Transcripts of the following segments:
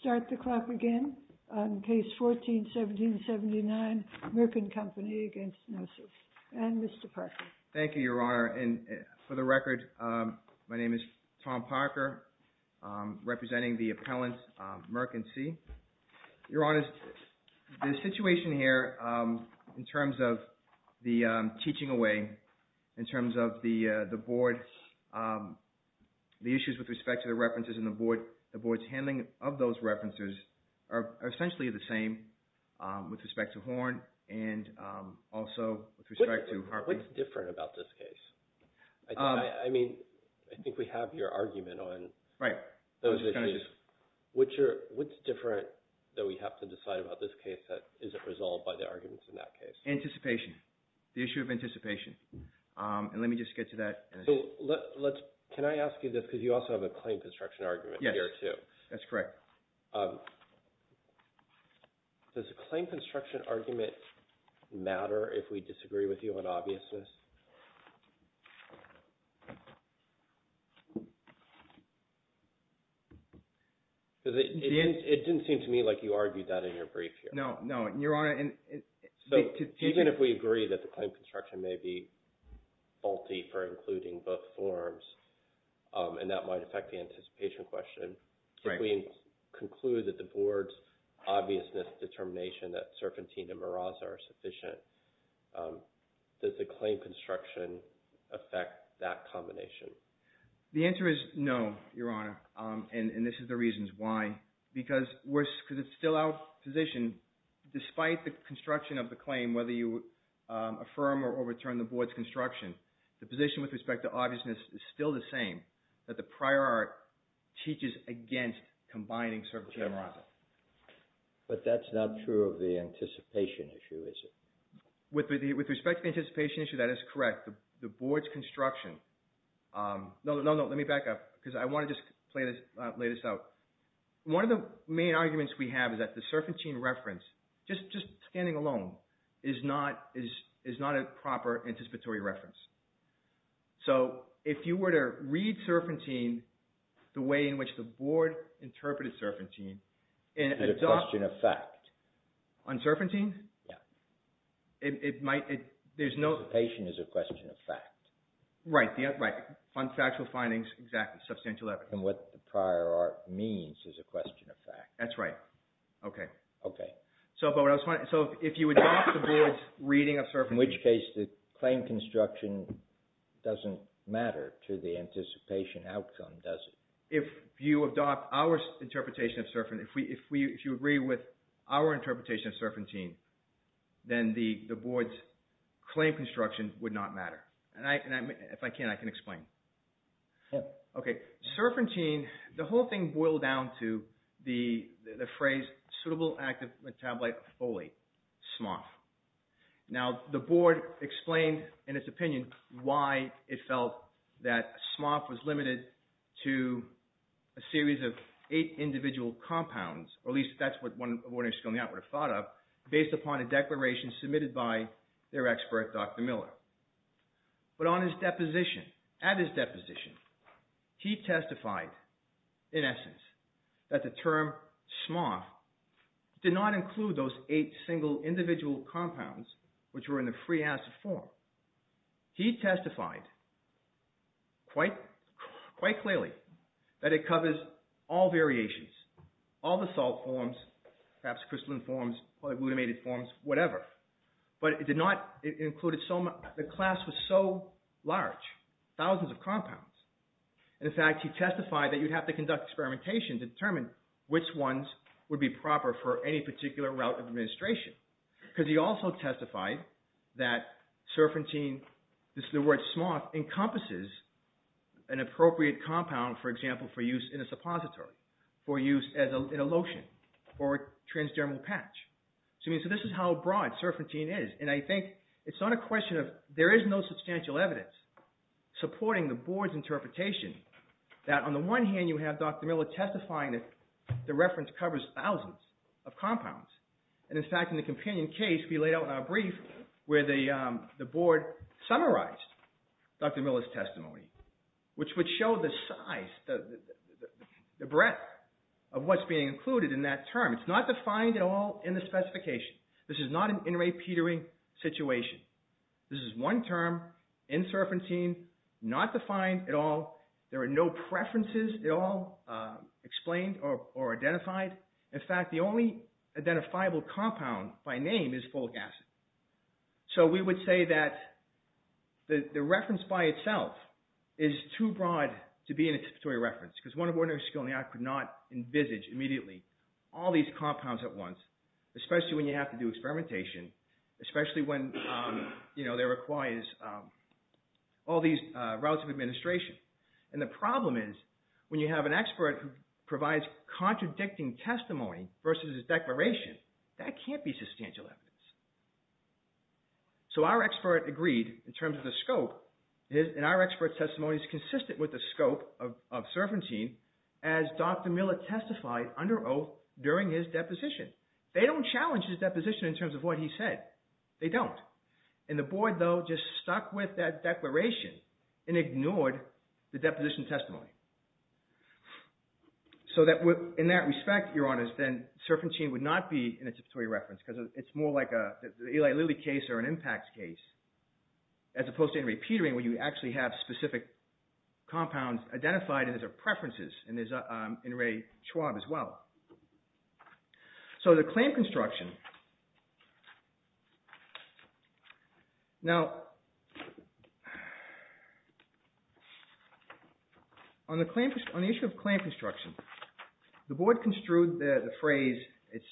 Start the clock again on Case 14-1779, Merck & Company v. Gnosis, and Mr. Parker. Thank you, Your Honor, and for the record, my name is Tom Parker, representing the appellant, Merck & Cie. Your Honor, the situation here in terms of the teaching away, in terms of the board, the issues with respect to the references and the board's handling of those references are essentially the same with respect to Horn and also with respect to Harper. What's different about this case? I mean, I think we have your argument on those issues. What's different that we have to decide about this case that isn't resolved by the arguments in that case? Anticipation, the issue of anticipation, and let me just get to that. So let's – can I ask you this because you also have a claim construction argument here too. Yes, that's correct. Does a claim construction argument matter if we disagree with you on obviousness? Because it didn't seem to me like you argued that in your brief here. No, no, and Your Honor – So even if we agree that the claim construction may be faulty for including both forms and that might affect the anticipation question, if we conclude that the board's obviousness determination that Serpentine and Meraza are sufficient, does the claim construction affect that combination? The answer is no, Your Honor, and this is the reasons why. Because it's still our position, despite the construction of the claim, whether you affirm or overturn the board's construction, the position with respect to obviousness is still the same, that the prior art teaches against combining Serpentine and Meraza. But that's not true of the anticipation issue, is it? With respect to the anticipation issue, that is correct. The board's construction – no, no, let me back up because I want to just lay this out. One of the main arguments we have is that the Serpentine reference, just standing alone, is not a proper anticipatory reference. So if you were to read Serpentine the way in which the board interpreted Serpentine – It's a question of fact. On Serpentine? Yeah. It might – there's no – Anticipation is a question of fact. Right, factual findings, exactly, substantial evidence. It's more than what the prior art means is a question of fact. That's right. Okay. Okay. So if you adopt the board's reading of Serpentine – In which case the claim construction doesn't matter to the anticipation outcome, does it? If you adopt our interpretation of Serpentine, if you agree with our interpretation of Serpentine, then the board's claim construction would not matter. If I can, I can explain. Yeah. Okay. Serpentine, the whole thing boiled down to the phrase suitable active metabolite of folate, SMOF. Now, the board explained in its opinion why it felt that SMOF was limited to a series of eight individual compounds, or at least that's what one of the board members coming out would have thought of, based upon a declaration submitted by their expert, Dr. Miller. But on his deposition, at his deposition, he testified in essence that the term SMOF did not include those eight single individual compounds which were in the free acid form. He testified quite clearly that it covers all variations, all the salt forms, perhaps crystalline forms, polyglutamate forms, whatever. But it did not – it included so – the class was so large, thousands of compounds. In fact, he testified that you'd have to conduct experimentation to determine which ones would be proper for any particular route of administration because he also testified that Serpentine, the word SMOF, encompasses an appropriate compound, for example, for use in a suppository, for use in a lotion, or a transdermal patch. So this is how broad Serpentine is. And I think it's not a question of – there is no substantial evidence supporting the board's interpretation that on the one hand you have Dr. Miller testifying that the reference covers thousands of compounds. And in fact, in the companion case we laid out in our brief where the board summarized Dr. Miller's testimony, which would show the size, the breadth of what's being included in that term. It's not defined at all in the specification. This is not an in-ray petering situation. This is one term in Serpentine, not defined at all. There are no preferences at all explained or identified. In fact, the only identifiable compound by name is folic acid. So we would say that the reference by itself is too broad to be an anticipatory reference because one of ordinary skill in the act could not envisage immediately all these compounds at once, especially when you have to do experimentation, especially when there requires all these routes of administration. And the problem is when you have an expert who provides contradicting testimony versus a declaration, that can't be substantial evidence. So our expert agreed in terms of the scope, and our expert's testimony is consistent with the scope of Serpentine as Dr. Miller testified under oath during his deposition. They don't challenge his deposition in terms of what he said. They don't. And the board, though, just stuck with that declaration and ignored the deposition testimony. So in that respect, Your Honors, then Serpentine would not be an anticipatory reference because it's more like an Eli Lilly case or an impacts case as opposed to in-ray petering where you actually have specific compounds identified as their preferences. And there's in-ray Schwab as well. So the claim construction. Now, on the issue of claim construction, the board construed the phrase, it's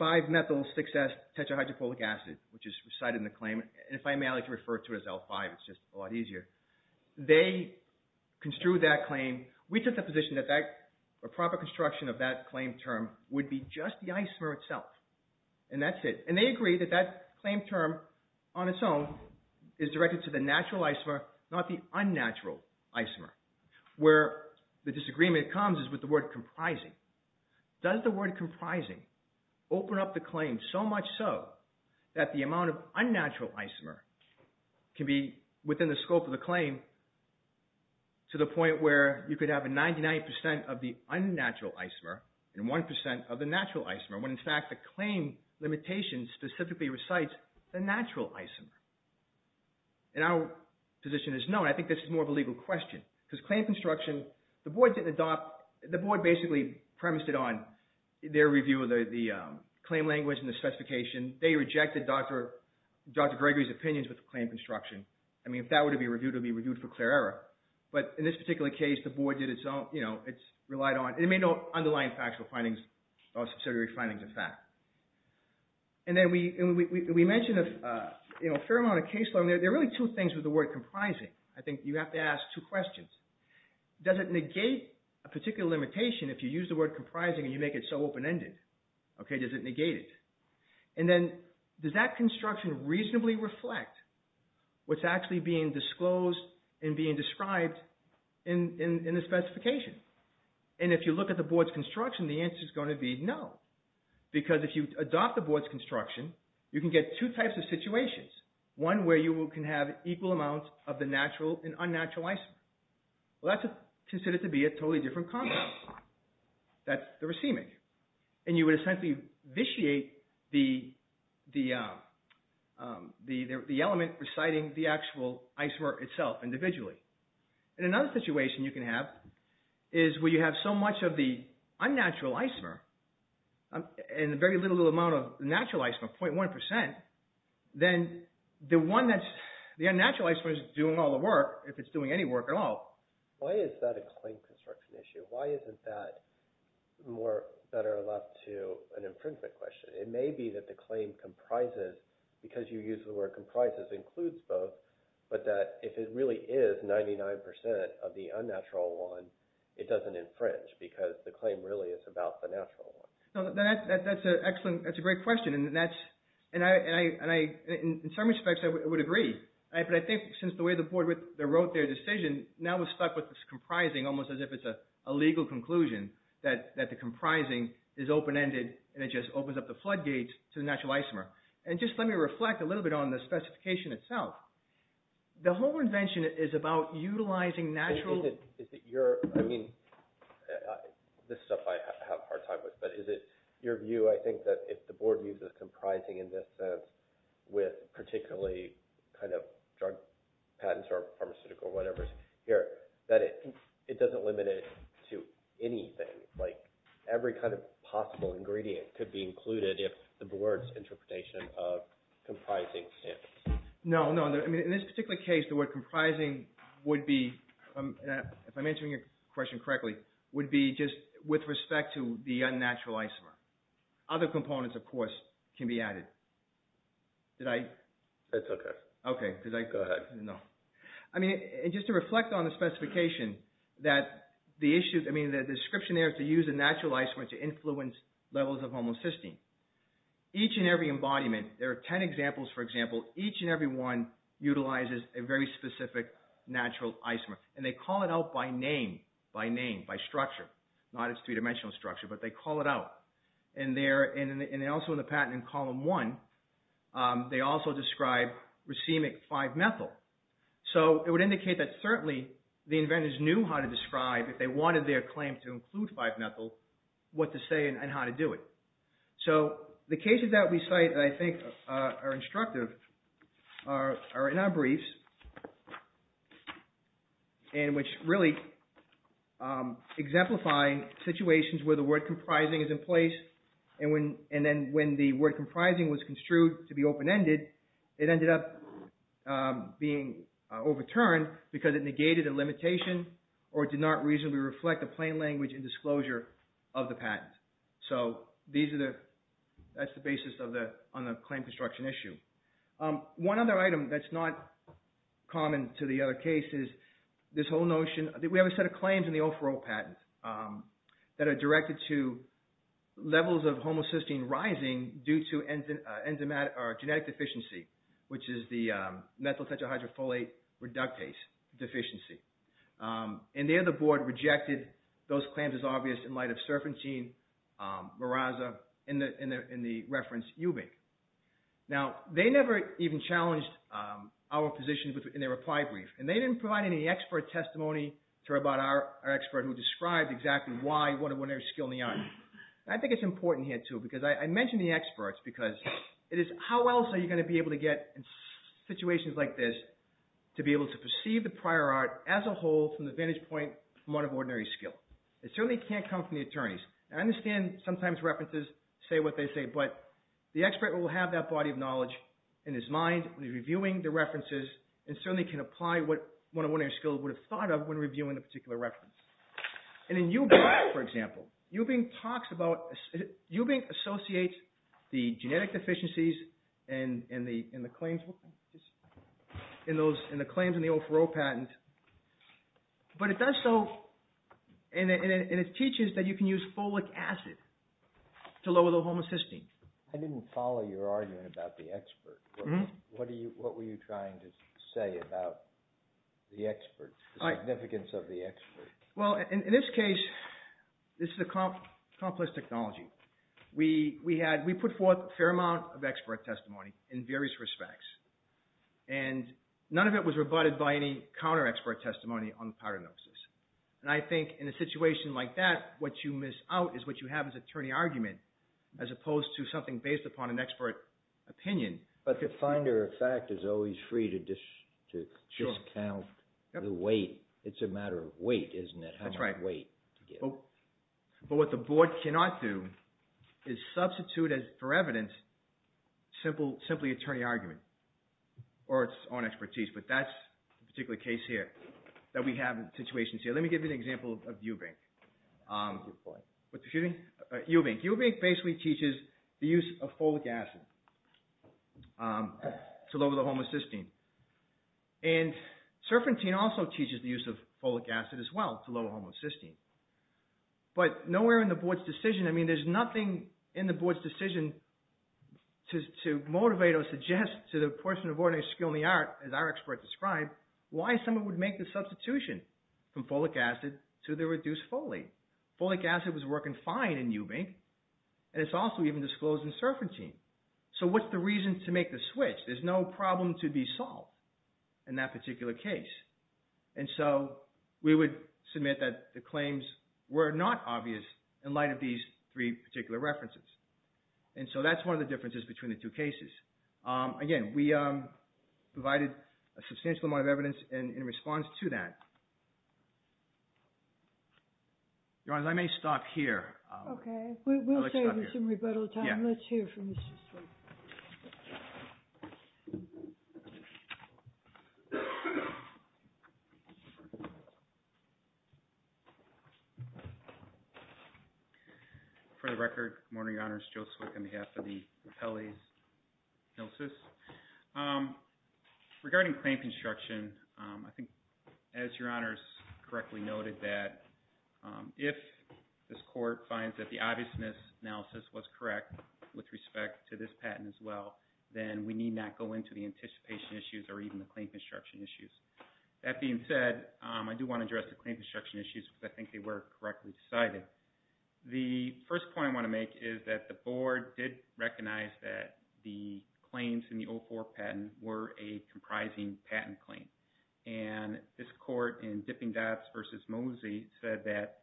5-methyl-6-tetrahydrochloric acid, which is recited in the claim. And if I may like to refer to it as L5, it's just a lot easier. They construed that claim. We took the position that a proper construction of that claim term would be just the isomer itself, and that's it. And they agreed that that claim term on its own is directed to the natural isomer, not the unnatural isomer. Where the disagreement comes is with the word comprising. Does the word comprising open up the claim so much so that the amount of unnatural isomer can be within the scope of the claim to the point where you could have a 99% of the unnatural isomer and 1% of the natural isomer when, in fact, the claim limitation specifically recites the natural isomer? And our position is no, and I think this is more of a legal question. Because claim construction, the board didn't adopt, the board basically premised it on their review of the claim language and the specification. They rejected Dr. Gregory's opinions with the claim construction. I mean, if that were to be reviewed, it would be reviewed for clear error. But in this particular case, the board did its own, you know, it relied on, and it made no underlying factual findings or subsidiary findings of fact. And then we mentioned a fair amount of case learning. There are really two things with the word comprising. I think you have to ask two questions. Does it negate a particular limitation if you use the word comprising and you make it so open-ended? Okay, does it negate it? And then does that construction reasonably reflect what's actually being disclosed and being described in the specification? And if you look at the board's construction, the answer is going to be no. Because if you adopt the board's construction, you can get two types of situations. One where you can have equal amounts of the natural and unnatural ICMR. Well, that's considered to be a totally different concept. That's the receiving. And you would essentially vitiate the element reciting the actual ICMR itself individually. And another situation you can have is where you have so much of the unnatural ICMR and a very little amount of natural ICMR, 0.1%, then the unnatural ICMR is doing all the work, if it's doing any work at all. Why is that a claim construction issue? Why isn't that more better left to an infringement question? It may be that the claim comprises, because you used the word comprises, includes both, but that if it really is 99% of the unnatural one, it doesn't infringe because the claim really is about the natural one. That's an excellent, that's a great question. And in some respects, I would agree. But I think since the way the board wrote their decision, now we're stuck with this comprising, almost as if it's a legal conclusion that the comprising is open-ended and it just opens up the floodgates to the natural ICMR. And just let me reflect a little bit on the specification itself. The whole invention is about utilizing natural… Is it your, I mean, this is stuff I have a hard time with, but is it your view, I think, that if the board views a comprising in this sense, with particularly kind of drug patents or pharmaceutical whatever's here, that it doesn't limit it to anything? Like every kind of possible ingredient could be included if the board's interpretation of comprising stands? No, no. In this particular case, the word comprising would be, if I'm answering your question correctly, would be just with respect to the unnatural ICMR. Other components, of course, can be added. Did I? That's okay. Okay. Go ahead. No. I mean, just to reflect on the specification that the issue, I mean, the description there is to use a natural ICMR to influence levels of homocysteine. Each and every embodiment, there are ten examples, for example, each and every one utilizes a very specific natural ICMR. And they call it out by name, by name, by structure, not its three-dimensional structure, but they call it out. And also in the patent in column one, they also describe racemic 5-methyl. So it would indicate that certainly the inventors knew how to describe, if they wanted their claim to include 5-methyl, what to say and how to do it. So the cases that we cite that I think are instructive are in our briefs and which really exemplify situations where the word comprising is in place. And then when the word comprising was construed to be open-ended, it ended up being overturned because it negated a limitation or did not reasonably reflect the plain language and disclosure of the patent. So that's the basis on the claim construction issue. One other item that's not common to the other cases, this whole notion that we have a set of claims in the O4O patent that are directed to levels of homocysteine rising due to genetic deficiency, which is the methyl tetrahydrofolate reductase deficiency. And there the board rejected those claims as obvious in light of serfentine, miraza, and the reference eubic. Now, they never even challenged our position in their reply brief, and they didn't provide any expert testimony to our expert who described exactly why one of their skill in the art. I think it's important here, too, because I mentioned the experts because it is how else are you going to be able to get in situations like this to be able to perceive the prior art as a whole from the vantage point from one of ordinary skill. It certainly can't come from the attorneys. I understand sometimes references say what they say, but the expert will have that body of knowledge in his mind when he's reviewing the references and certainly can apply what one of ordinary skill would have thought of when reviewing a particular reference. In eubic, for example, eubic associates the genetic deficiencies in the claims in the O4O patent, and it teaches that you can use folic acid to lower the homocysteine. I didn't follow your argument about the expert. What were you trying to say about the significance of the expert? Well, in this case, this is a complex technology. We put forth a fair amount of expert testimony in various respects, and none of it was rebutted by any counter-expert testimony on the paranosis. And I think in a situation like that, what you miss out is what you have as attorney argument as opposed to something based upon an expert opinion. But the finder of fact is always free to discount the weight. It's a matter of weight, isn't it? That's right. How much weight to give? But what the board cannot do is substitute for evidence simply attorney argument or its own expertise. But that's the particular case here that we have in situations here. Let me give you an example of eubic. Your point. Excuse me? Eubic. Eubic basically teaches the use of folic acid to lower the homocysteine. And serpentine also teaches the use of folic acid as well to lower homocysteine. But nowhere in the board's decision – I mean there's nothing in the board's decision to motivate or suggest to the person of ordinary skill in the art, as our expert described, why someone would make the substitution from folic acid to the reduced folate. Folic acid was working fine in eubic and it's also even disclosed in serpentine. So what's the reason to make the switch? There's no problem to be solved in that particular case. And so we would submit that the claims were not obvious in light of these three particular references. And so that's one of the differences between the two cases. Again, we provided a substantial amount of evidence in response to that. Your Honors, I may stop here. Okay. We'll save you some rebuttal time. Let's hear from Mr. Swick. For the record, good morning, Your Honors. Joe Swick on behalf of the Pele's Gnosis. Regarding claim construction, I think, as Your Honors correctly noted, that if this court finds that the obviousness analysis was correct with respect to this patent as well, then we need not go into the anticipation issues or even the claim construction issues. That being said, I do want to address the claim construction issues because I think they were correctly decided. The first point I want to make is that the board did recognize that the claims in the 04 patent were a comprising patent claim. And this court in Dipping Dots v. Mosey said that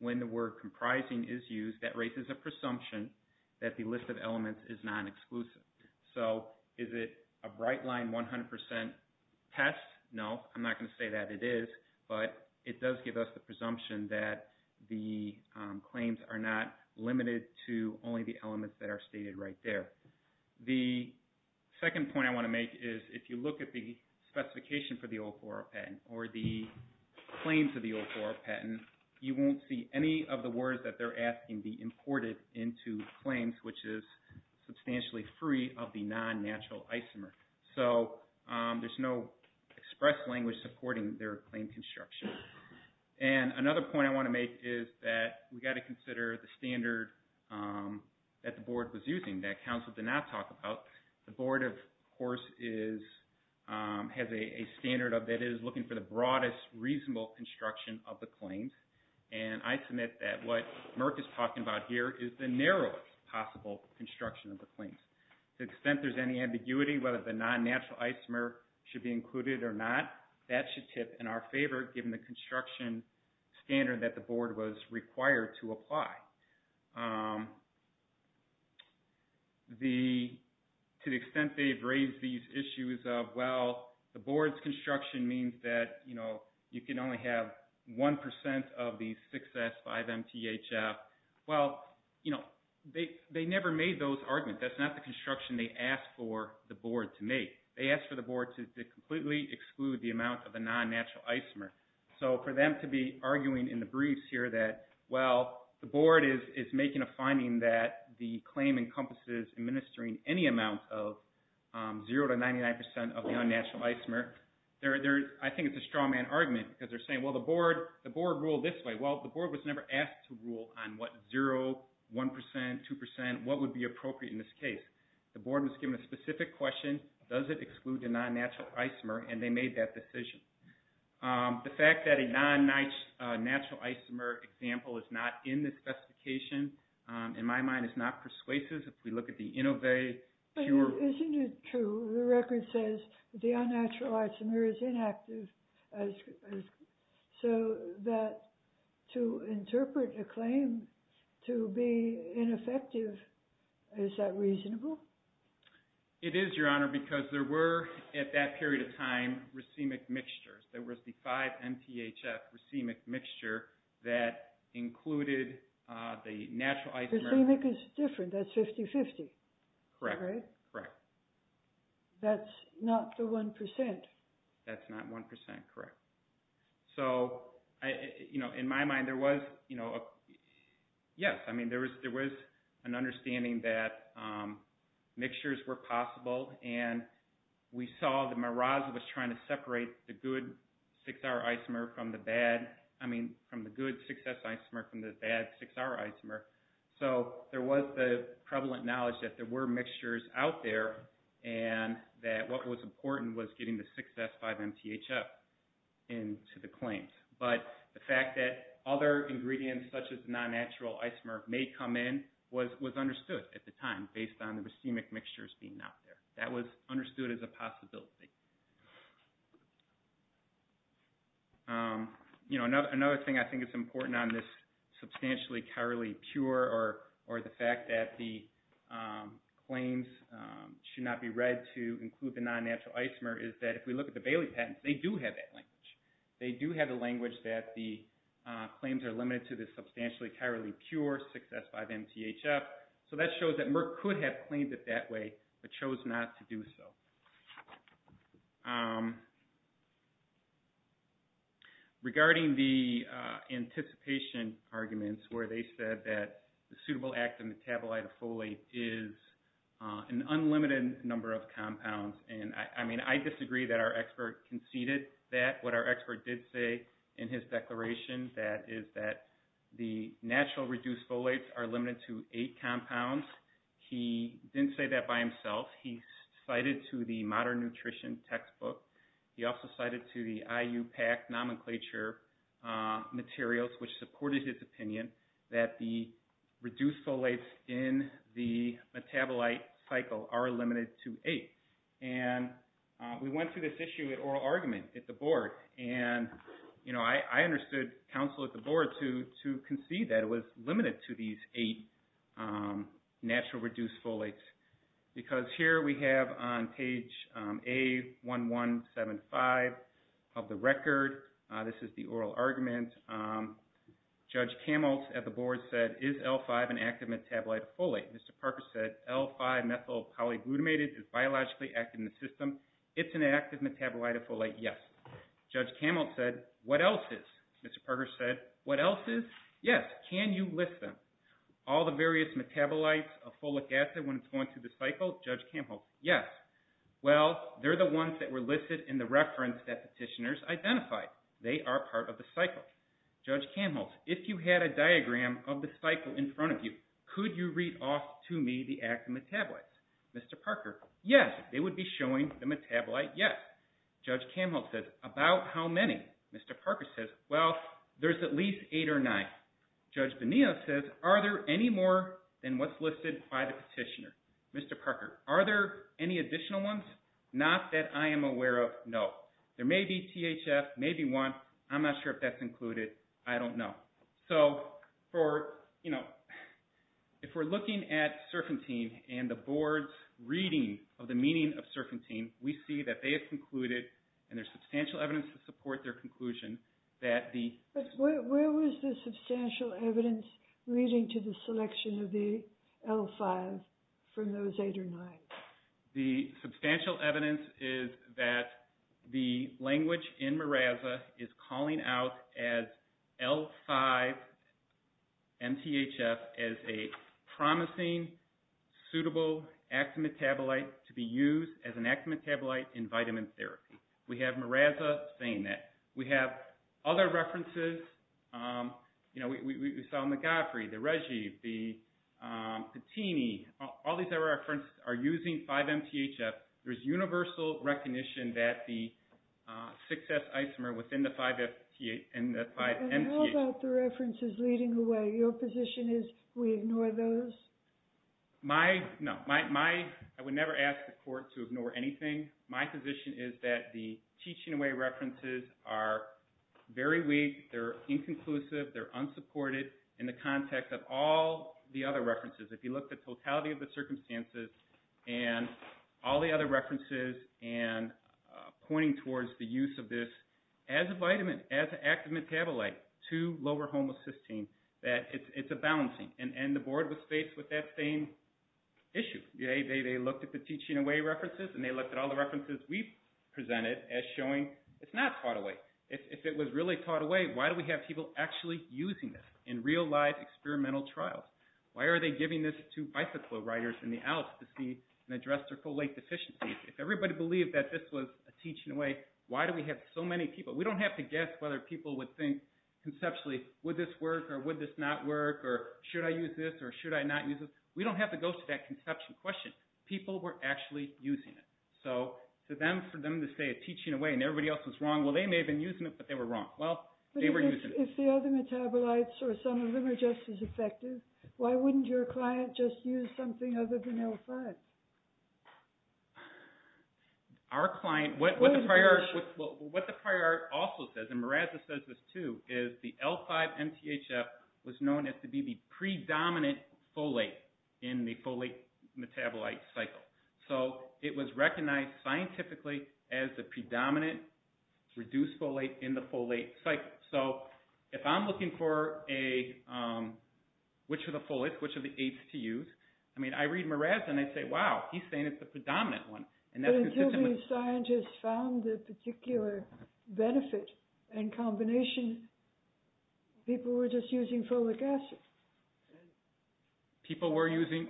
when the word comprising is used, that raises a presumption that the list of elements is non-exclusive. So is it a bright line 100% test? No, I'm not going to say that it is, but it does give us the presumption that the claims are not limited to only the elements that are stated right there. The second point I want to make is if you look at the specification for the 04 patent or the claims of the 04 patent, you won't see any of the words that they're asking be imported into claims, which is substantially free of the non-natural isomer. So there's no express language supporting their claim construction. And another point I want to make is that we've got to consider the standard that the board was using that counsel did not talk about. The board, of course, has a standard of that it is looking for the broadest reasonable construction of the claims. And I submit that what Merck is talking about here is the narrowest possible construction of the claims. To the extent there's any ambiguity whether the non-natural isomer should be included or not, that should tip in our favor given the construction standard that the board was required to apply. To the extent they've raised these issues of, well, the board's construction means that you can only have 1% of the 6S5MTHF. Well, they never made those arguments. That's not the construction they asked for the board to make. They asked for the board to completely exclude the amount of the non-natural isomer. So for them to be arguing in the briefs here that, well, the board is making a finding that the claim encompasses administering any amount of 0% to 99% of the non-natural isomer. I think it's a straw man argument because they're saying, well, the board ruled this way. Well, the board was never asked to rule on what 0%, 1%, 2%, what would be appropriate in this case. The board was given a specific question. Does it exclude the non-natural isomer? And they made that decision. The fact that a non-natural isomer example is not in the specification, in my mind, is not persuasive. If we look at the Inovay, sure. Isn't it true the record says the unnatural isomer is inactive so that to interpret a claim to be ineffective, is that reasonable? It is, Your Honor, because there were, at that period of time, racemic mixtures. There was the 5MTHF racemic mixture that included the natural isomer. Racemic is different. That's 50-50. Correct. That's not the 1%. That's not 1%, correct. So, in my mind, there was an understanding that mixtures were possible. And we saw that Meraz was trying to separate the good 6R isomer from the bad. I mean, from the good 6S isomer from the bad 6R isomer. So, there was the prevalent knowledge that there were mixtures out there and that what was important was getting the 6S5MTHF into the claims. But the fact that other ingredients such as non-natural isomer may come in was understood at the time based on the racemic mixtures being out there. That was understood as a possibility. You know, another thing I think is important on this substantially chirally pure, or the fact that the claims should not be read to include the non-natural isomer, is that if we look at the Bailey patents, they do have that language. They do have the language that the claims are limited to the substantially chirally pure 6S5MTHF. So, that shows that Merck could have claimed it that way but chose not to do so. Regarding the anticipation arguments where they said that the suitable active metabolite of folate is an unlimited number of compounds. And, I mean, I disagree that our expert conceded that. What our expert did say in his declaration, that is that the natural reduced folates are limited to 8 compounds. He didn't say that by himself. He cited to the Modern Nutrition textbook. He also cited to the IUPAC nomenclature materials which supported his opinion that the reduced folates in the metabolite cycle are limited to 8. And we went through this issue at oral argument at the board. And, you know, I understood counsel at the board to concede that it was limited to these 8 natural reduced folates. Because here we have on page A1175 of the record. This is the oral argument. Judge Camelt at the board said, is L5 an active metabolite of folate? Mr. Parker said, L5 methyl polyglutamate is biologically active in the system. It's an active metabolite of folate, yes. Judge Camelt said, what else is? Mr. Parker said, what else is? Yes. Can you list them? All the various metabolites of folic acid when it's going through the cycle? Judge Camelt, yes. Well, they're the ones that were listed in the reference that petitioners identified. They are part of the cycle. Judge Camelt, if you had a diagram of the cycle in front of you, could you read off to me the active metabolites? Mr. Parker, yes. They would be showing the metabolite, yes. Judge Camelt said, about how many? Mr. Parker said, well, there's at least 8 or 9. Judge Bonilla says, are there any more than what's listed by the petitioner? Mr. Parker, are there any additional ones? Not that I am aware of, no. There may be THF, maybe one. I'm not sure if that's included. I don't know. So for, you know, if we're looking at serpentine and the board's reading of the meaning of serpentine, we see that they have concluded, and there's substantial evidence to support their conclusion, that the But where was the substantial evidence leading to the selection of the L5 from those 8 or 9? The substantial evidence is that the language in MARAZA is calling out as L5 MTHF as a promising, suitable active metabolite to be used as an active metabolite in vitamin therapy. We have MARAZA saying that. We have other references. You know, we saw McGoffrey, the Reggie, the Patini. All these other references are using 5 MTHF. There's universal recognition that the 6S isomer within the 5 MTHF. And how about the references leading away? Your position is we ignore those? My, no. My, I would never ask the court to ignore anything. My position is that the teaching away references are very weak. They're inconclusive. They're unsupported in the context of all the other references. If you look at the totality of the circumstances and all the other references and pointing towards the use of this as a vitamin, as an active metabolite to lower homocysteine, that it's a balancing. And the board was faced with that same issue. They looked at the teaching away references, and they looked at all the references we presented as showing it's not taught away. If it was really taught away, why do we have people actually using this in real life experimental trials? Why are they giving this to bicycle riders in the Alps to see and address their folate deficiencies? If everybody believed that this was a teaching away, why do we have so many people? We don't have to guess whether people would think conceptually, would this work or would this not work, or should I use this or should I not use this? We don't have to go to that conception question. People were actually using it. So for them to say it's teaching away and everybody else was wrong, well, they may have been using it, but they were wrong. Well, they were using it. If the other metabolites or some of them are just as effective, why wouldn't your client just use something other than L5? Our client, what the prior art also says, and Miraza says this too, is the L5-MTHF was known as to be the predominant folate in the folate metabolite cycle. So it was recognized scientifically as the predominant reduced folate in the folate cycle. So if I'm looking for which of the folates, which of the eights to use, I mean, I read Miraza and I say, wow, he's saying it's the predominant one. But until these scientists found a particular benefit and combination, people were just using folic acid. People were using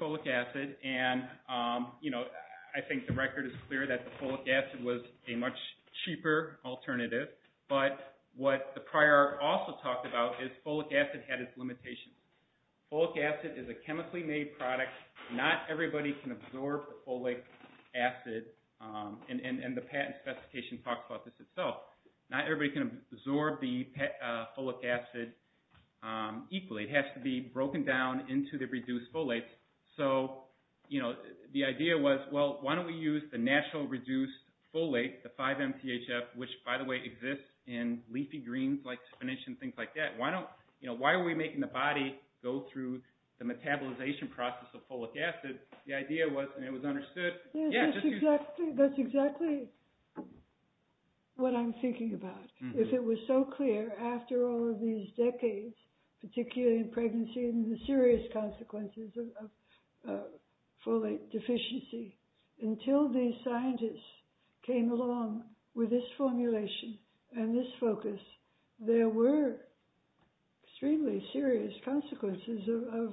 folic acid, and I think the record is clear that the folic acid was a much cheaper alternative. But what the prior art also talked about is folic acid had its limitations. Folic acid is a chemically made product. Not everybody can absorb the folic acid, and the patent specification talks about this itself. Not everybody can absorb the folic acid equally. It has to be broken down into the reduced folates. So the idea was, well, why don't we use the natural reduced folate, the 5-MTHF, which, by the way, exists in leafy greens like spinach and things like that. Why are we making the body go through the metabolization process of folic acid? The idea was, and it was understood. That's exactly what I'm thinking about. If it was so clear, after all of these decades, particularly in pregnancy and the serious consequences of folate deficiency, until these scientists came along with this formulation and this focus, there were extremely serious consequences of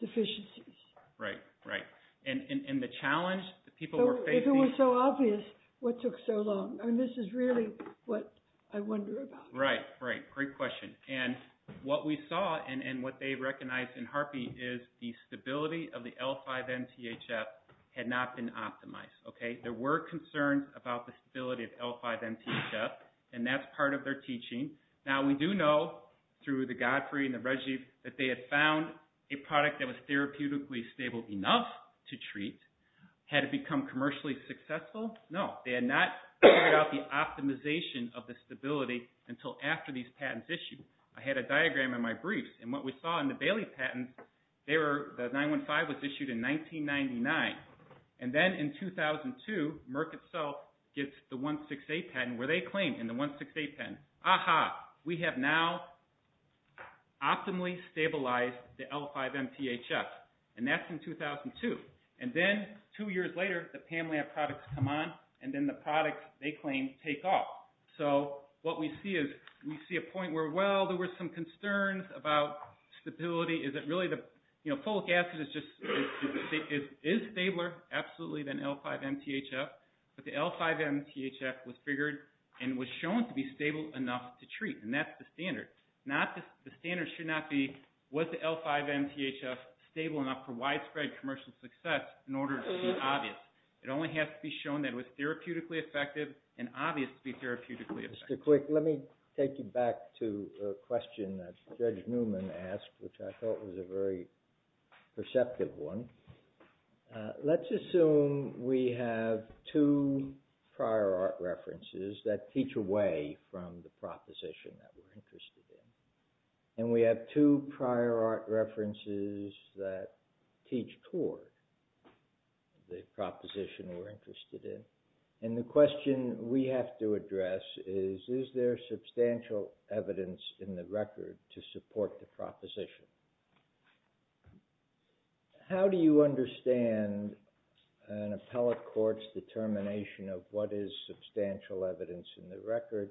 deficiencies. Right, right. And the challenge that people were facing... If it was so obvious, what took so long? This is really what I wonder about. Right, right. Great question. And what we saw and what they recognized in Harpy is the stability of the L5-MTHF had not been optimized. There were concerns about the stability of L5-MTHF, and that's part of their teaching. Now, we do know, through the Godfrey and the Reggie, that they had found a product that was therapeutically stable enough to treat. Had it become commercially successful? No. They had not figured out the optimization of the stability until after these patents issued. I had a diagram in my briefs, and what we saw in the Bailey patents, the 915 was issued in 1999. And then in 2002, Merck itself gets the 168 patent, where they claim in the 168 patent, aha, we have now optimally stabilized the L5-MTHF. And that's in 2002. And then two years later, the Pam-Lab products come on, and then the products they claim take off. So what we see is we see a point where, well, there were some concerns about stability. Folic acid is stabler, absolutely, than L5-MTHF, but the L5-MTHF was figured and was shown to be stable enough to treat, and that's the standard. The standard should not be was the L5-MTHF stable enough for widespread commercial success in order to be obvious. It only has to be shown that it was therapeutically effective and obvious to be therapeutically effective. Mr. Quick, let me take you back to a question that Judge Newman asked, which I thought was a very perceptive one. Let's assume we have two prior art references that teach away from the proposition that we're interested in, and we have two prior art references that teach toward the proposition we're interested in. And the question we have to address is, is there substantial evidence in the record to support the proposition? How do you understand an appellate court's determination of what is substantial evidence in the record?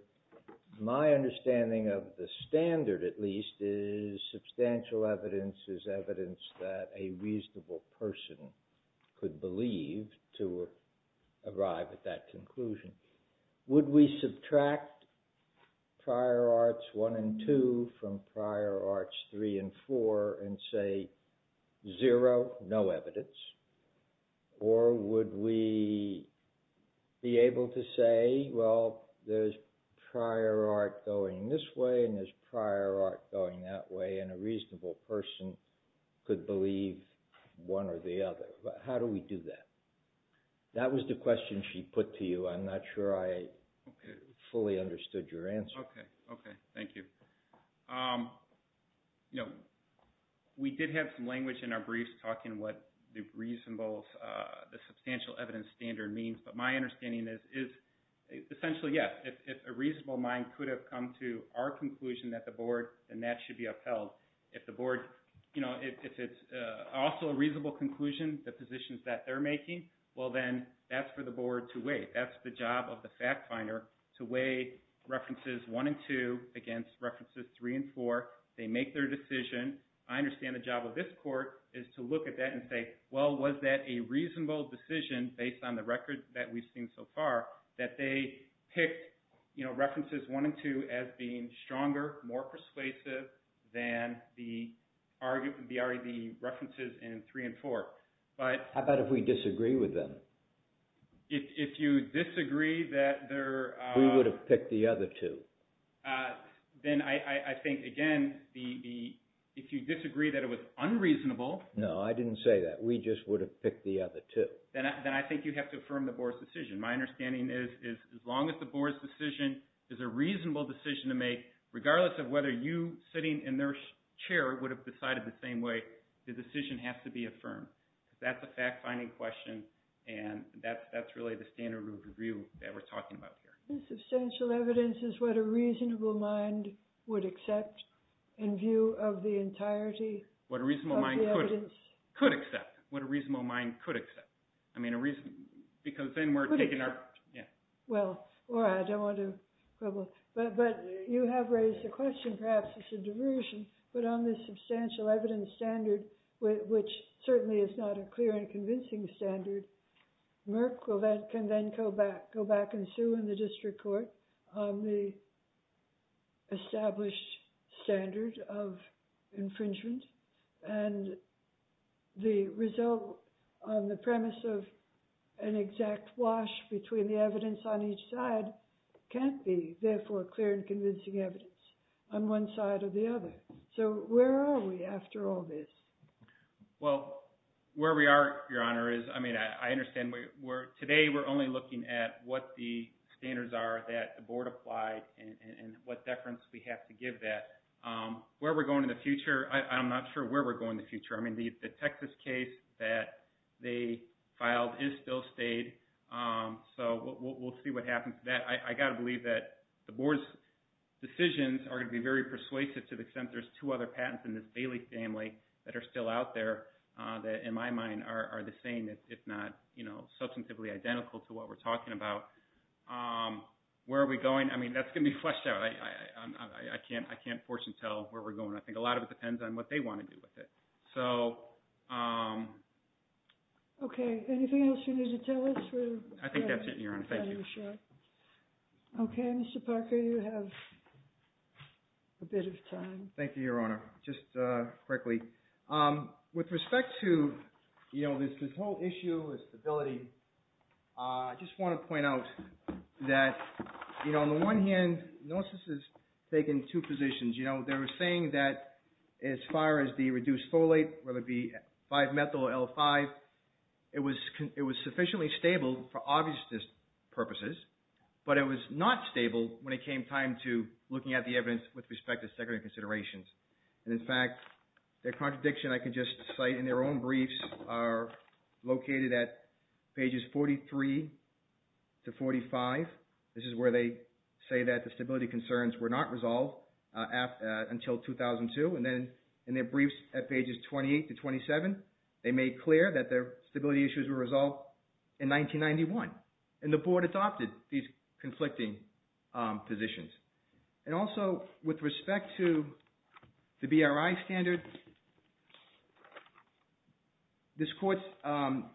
My understanding of the standard, at least, is substantial evidence is evidence that a reasonable person could believe to arrive at that conclusion. Would we subtract prior arts one and two from prior arts three and four and say zero, no evidence? Or would we be able to say, well, there's prior art going this way and there's prior art going that way, and a reasonable person could believe one or the other? How do we do that? That was the question she put to you. I'm not sure I fully understood your answer. Okay, thank you. We did have some language in our briefs talking what the reasonable, the substantial evidence standard means. But my understanding is, essentially, yes, if a reasonable mind could have come to our conclusion at the board, then that should be upheld. If the board, you know, if it's also a reasonable conclusion, the positions that they're making, well, then that's for the board to weigh. That's the job of the fact finder to weigh references one and two against references three and four. They make their decision. I understand the job of this court is to look at that and say, well, was that a reasonable decision based on the record that we've seen so far that they picked references one and two as being stronger, more persuasive than the references in three and four? How about if we disagree with them? If you disagree that there are – We would have picked the other two. Then I think, again, if you disagree that it was unreasonable – No, I didn't say that. We just would have picked the other two. Then I think you have to affirm the board's decision. My understanding is as long as the board's decision is a reasonable decision to make, regardless of whether you sitting in their chair would have decided the same way, the decision has to be affirmed. That's a fact-finding question, and that's really the standard of review that we're talking about here. Substantial evidence is what a reasonable mind would accept in view of the entirety of the evidence. What a reasonable mind could accept. What a reasonable mind could accept. Because then we're taking our – Well, I don't want to quibble, but you have raised the question perhaps it's a diversion, but on the substantial evidence standard, which certainly is not a clear and convincing standard, Merck can then go back and sue in the district court on the established standard of infringement, and the result on the premise of an exact wash between the evidence on each side can't be therefore clear and convincing evidence on one side or the other. So where are we after all this? Well, where we are, Your Honor, is – I mean, I understand today we're only looking at what the standards are that the board applied and what deference we have to give that. Where we're going in the future, I'm not sure where we're going in the future. I mean, the Texas case that they filed is still stayed, so we'll see what happens. I've got to believe that the board's decisions are going to be very persuasive to the extent there's two other patents in this Bailey family that are still out there that in my mind are the same, if not substantively identical to what we're talking about. Where are we going? I mean, that's going to be fleshed out. I can't forcibly tell where we're going. I think a lot of it depends on what they want to do with it. So... Okay. Anything else you need to tell us? I think that's it, Your Honor. Thank you. Okay. Mr. Parker, you have a bit of time. Thank you, Your Honor. Just quickly, with respect to this whole issue of stability, I just want to point out that, you know, on the one hand, NOSIS has taken two positions. You know, they were saying that as far as the reduced folate, whether it be 5-methyl or L5, it was sufficiently stable for obvious purposes, but it was not stable when it came time to looking at the evidence with respect to secondary considerations. And in fact, the contradiction I can just cite in their own briefs are located at pages 43 to 45. This is where they say that the stability concerns were not resolved until 2002. And then in their briefs at pages 28 to 27, they made clear that their stability issues were resolved in 1991. And the Board adopted these conflicting positions. And also, with respect to the BRI standard, this Court's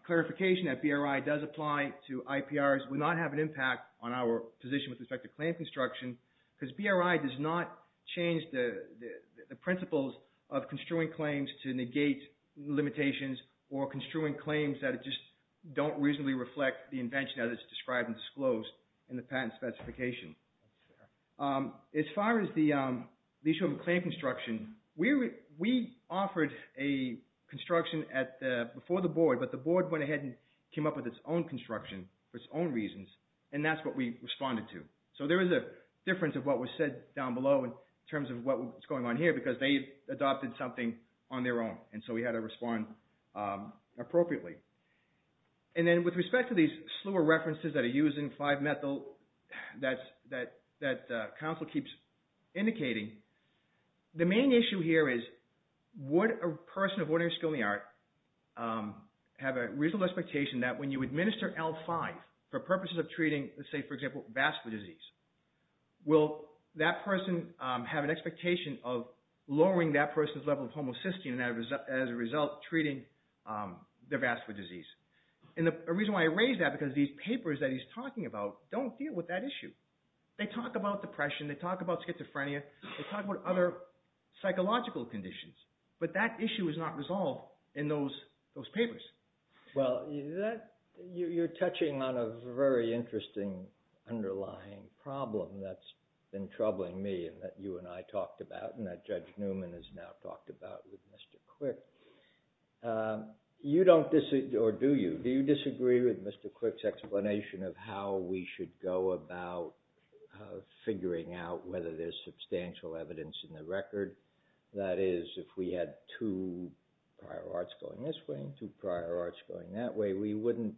clarification that BRI does apply to IPRs would not have an impact on our position with respect to claim construction because BRI does not change the principles of construing claims to negate limitations or construing claims that just don't reasonably reflect the invention as it's described and disclosed in the patent specification. As far as the issue of claim construction, we offered a construction before the Board, but the Board went ahead and came up with its own construction for its own reasons, and that's what we responded to. So there is a difference of what was said down below in terms of what was going on here because they adopted something on their own, and so we had to respond appropriately. And then with respect to these slur references that are used in 5-methyl that counsel keeps indicating, the main issue here is would a person of ordinary skill and the art have a reasonable expectation that when you administer L5 for purposes of treating, let's say, for example, vascular disease, will that person have an expectation of lowering that person's level of homocysteine as a result of treating their vascular disease? And the reason why I raise that is because these papers that he's talking about don't deal with that issue. They talk about depression, they talk about schizophrenia, they talk about other psychological conditions, but that issue is not resolved in those papers. Well, you're touching on a very interesting underlying problem that's been troubling me and that you and I talked about and that Judge Newman has now talked about with Mr. Quick. Do you disagree with Mr. Quick's explanation of how we should go about figuring out whether there's substantial evidence in the record? That is, if we had two prior arts going this way and two prior arts going that way, we wouldn't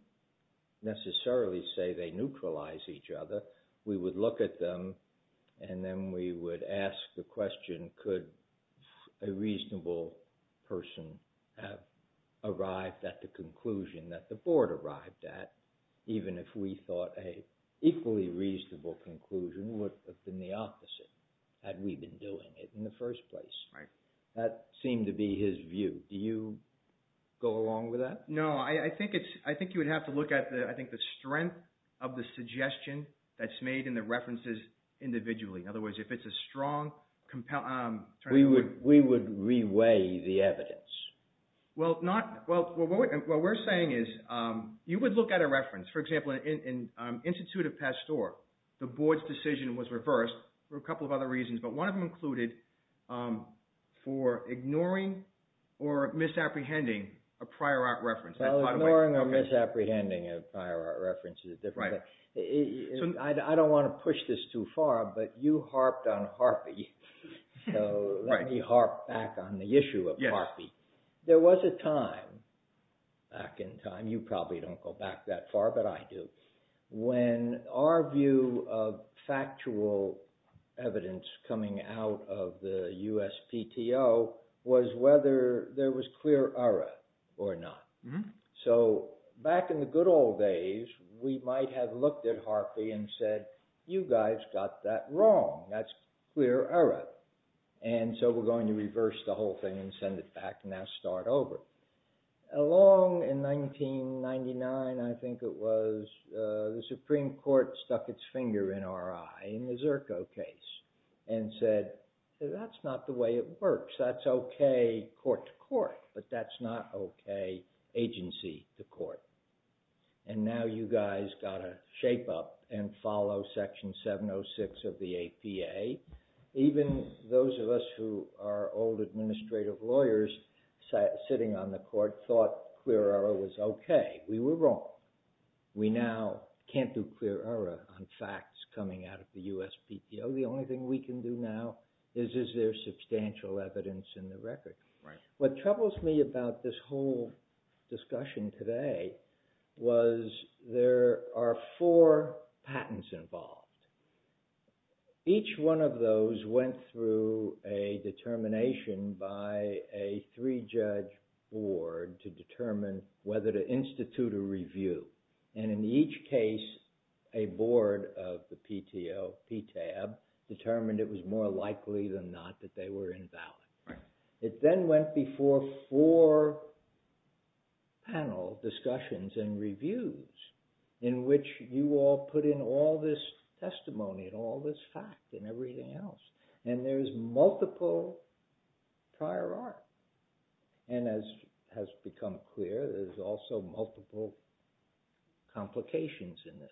necessarily say they neutralize each other. We would look at them and then we would ask the question, could a reasonable person have arrived at the conclusion that the board arrived at even if we thought an equally reasonable conclusion would have been the opposite had we been doing it in the first place? That seemed to be his view. Do you go along with that? No, I think you would have to look at the strength of the suggestion that's made in the references individually. In other words, if it's a strong compelling... We would re-weigh the evidence. What we're saying is you would look at a reference. For example, in Institute of Pasteur, the board's decision was reversed for a couple of other reasons, but one of them included for ignoring or misapprehending a prior art reference. Ignoring or misapprehending a prior art reference is a different thing. I don't want to push this too far, but you harped on Harpy, so let me harp back on the issue of Harpy. There was a time, back in time, you probably don't go back that far, but I do, when our view of factual evidence coming out of the USPTO was whether there was clear error or not. So back in the good old days, we might have looked at Harpy and said, you guys got that wrong. That's clear error. And so we're going to reverse the whole thing and send it back and now start over. Along in 1999, I think it was, the Supreme Court stuck its finger in our eye in the Zerko case and said, that's not the way it works. That's okay court to court, but that's not okay agency to court. And now you guys got to shape up and follow Section 706 of the APA. Even those of us who are old administrative lawyers sitting on the court thought clear error was okay. We were wrong. We now can't do clear error on facts coming out of the USPTO. The only thing we can do now is, is there substantial evidence in the record? What troubles me about this whole discussion today was there are four patents involved. Each one of those went through a determination by a three-judge board to determine whether to institute a review. And in each case, a board of the PTO, PTAB, determined it was more likely than not that they were invalid. It then went before four panel discussions and reviews in which you all put in all this testimony and all this fact and everything else. And there's multiple prior art. And as has become clear, there's also multiple complications in this.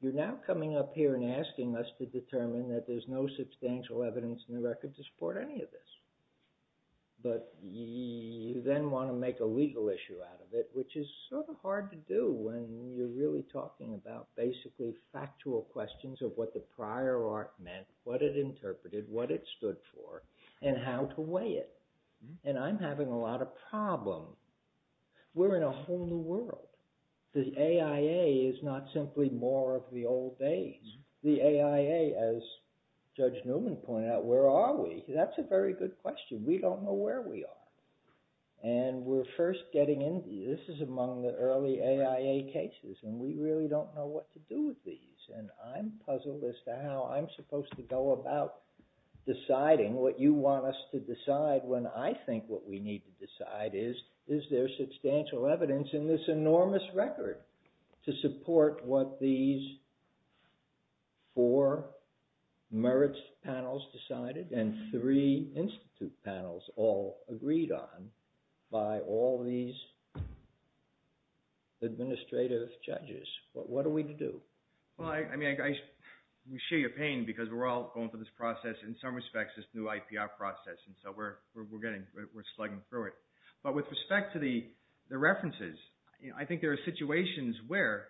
You're now coming up here and asking us to determine that there's no substantial evidence in the record to support any of this. But you then want to make a legal issue out of it, which is sort of hard to do when you're really talking about basically factual questions of what the prior art meant, what it interpreted, what it stood for, and how to weigh it. And I'm having a lot of problem. We're in a whole new world. The AIA is not simply more of the old days. The AIA, as Judge Newman pointed out, where are we? That's a very good question. We don't know where we are. And we're first getting into this. This is among the early AIA cases. And we really don't know what to do with these. And I'm puzzled as to how I'm supposed to go about deciding what you want us to decide when I think what we need to decide is, is there substantial evidence in this enormous record to support what these four merits panels decided and three institute panels all agreed on by all these administrative judges? What are we to do? Well, I mean, I share your pain because we're all going through this process, in some respects, this new IPR process. And so we're getting, we're slugging through it. But with respect to the references, I think there are situations where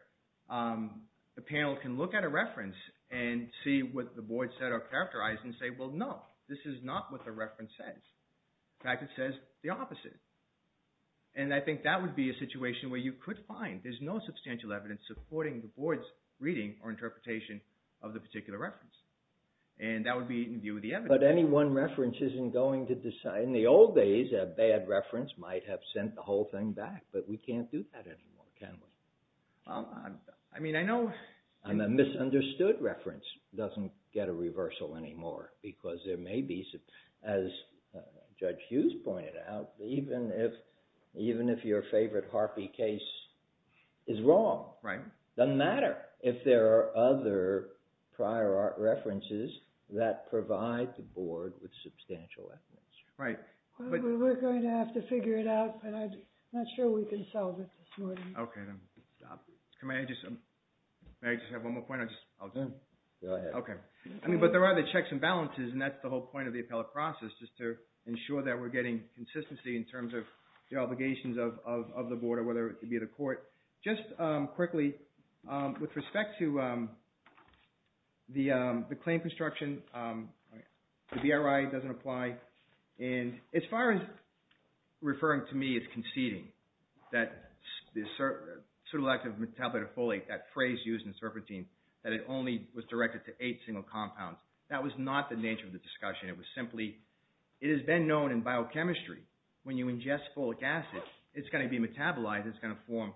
the panel can look at a reference and see what the boards that are characterized and say, well, no, this is not what the reference says. In fact, it says the opposite. And I think that would be a situation where you could find, there's no substantial evidence supporting the board's reading or interpretation of the particular reference. And that would be in view of the evidence. But any one reference isn't going to decide. In the old days, a bad reference might have sent the whole thing back. But we can't do that anymore, can we? I mean, I know. And a misunderstood reference doesn't get a reversal anymore because there may be, as Judge Hughes pointed out, even if your favorite Harpy case is wrong, doesn't matter if there are other prior art references that provide the board with substantial evidence. Right. We're going to have to figure it out. I'm not sure we can solve it this morning. Okay. Can I just have one more point? I'll do it. Go ahead. Okay. But there are the checks and balances, and that's the whole point of the appellate process, just to ensure that we're getting consistency in terms of the obligations of the board or whether it be the court. Just quickly, with respect to the claim construction, the BRI doesn't apply. Right. And as far as referring to me as conceding that the pseudoactive metabolite of folate, that phrase used in serpentine, that it only was directed to eight single compounds, that was not the nature of the discussion. It was simply, it has been known in biochemistry, when you ingest folic acid, it's going to be metabolized, it's going to form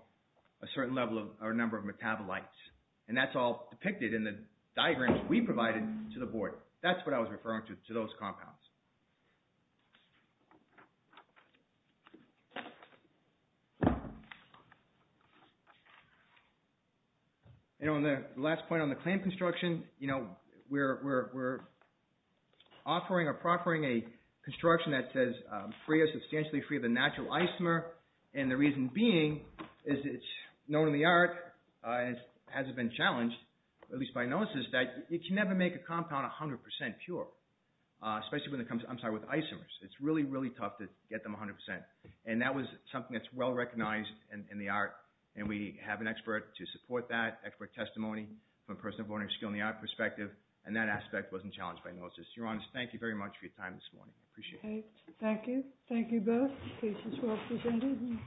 a certain level or number of metabolites. And that's all depicted in the diagrams we provided to the board. That's what I was referring to, to those compounds. And on the last point on the claim construction, we're offering or proffering a construction that says free or substantially free of the natural isomer, and the reason being is it's known in the art, and it hasn't been challenged, at least by analysis, that you can never make a compound 100% pure, especially when it comes, I'm sorry, with isomers. It's really, really tough to get them 100%. And that was something that's well recognized in the art, and we have an expert to support that, expert testimony, from a person of learning skill in the art perspective, and that aspect wasn't challenged by analysis. Your Honor, thank you very much for your time this morning. I appreciate it. Thank you. Thank you both. The case is well presented.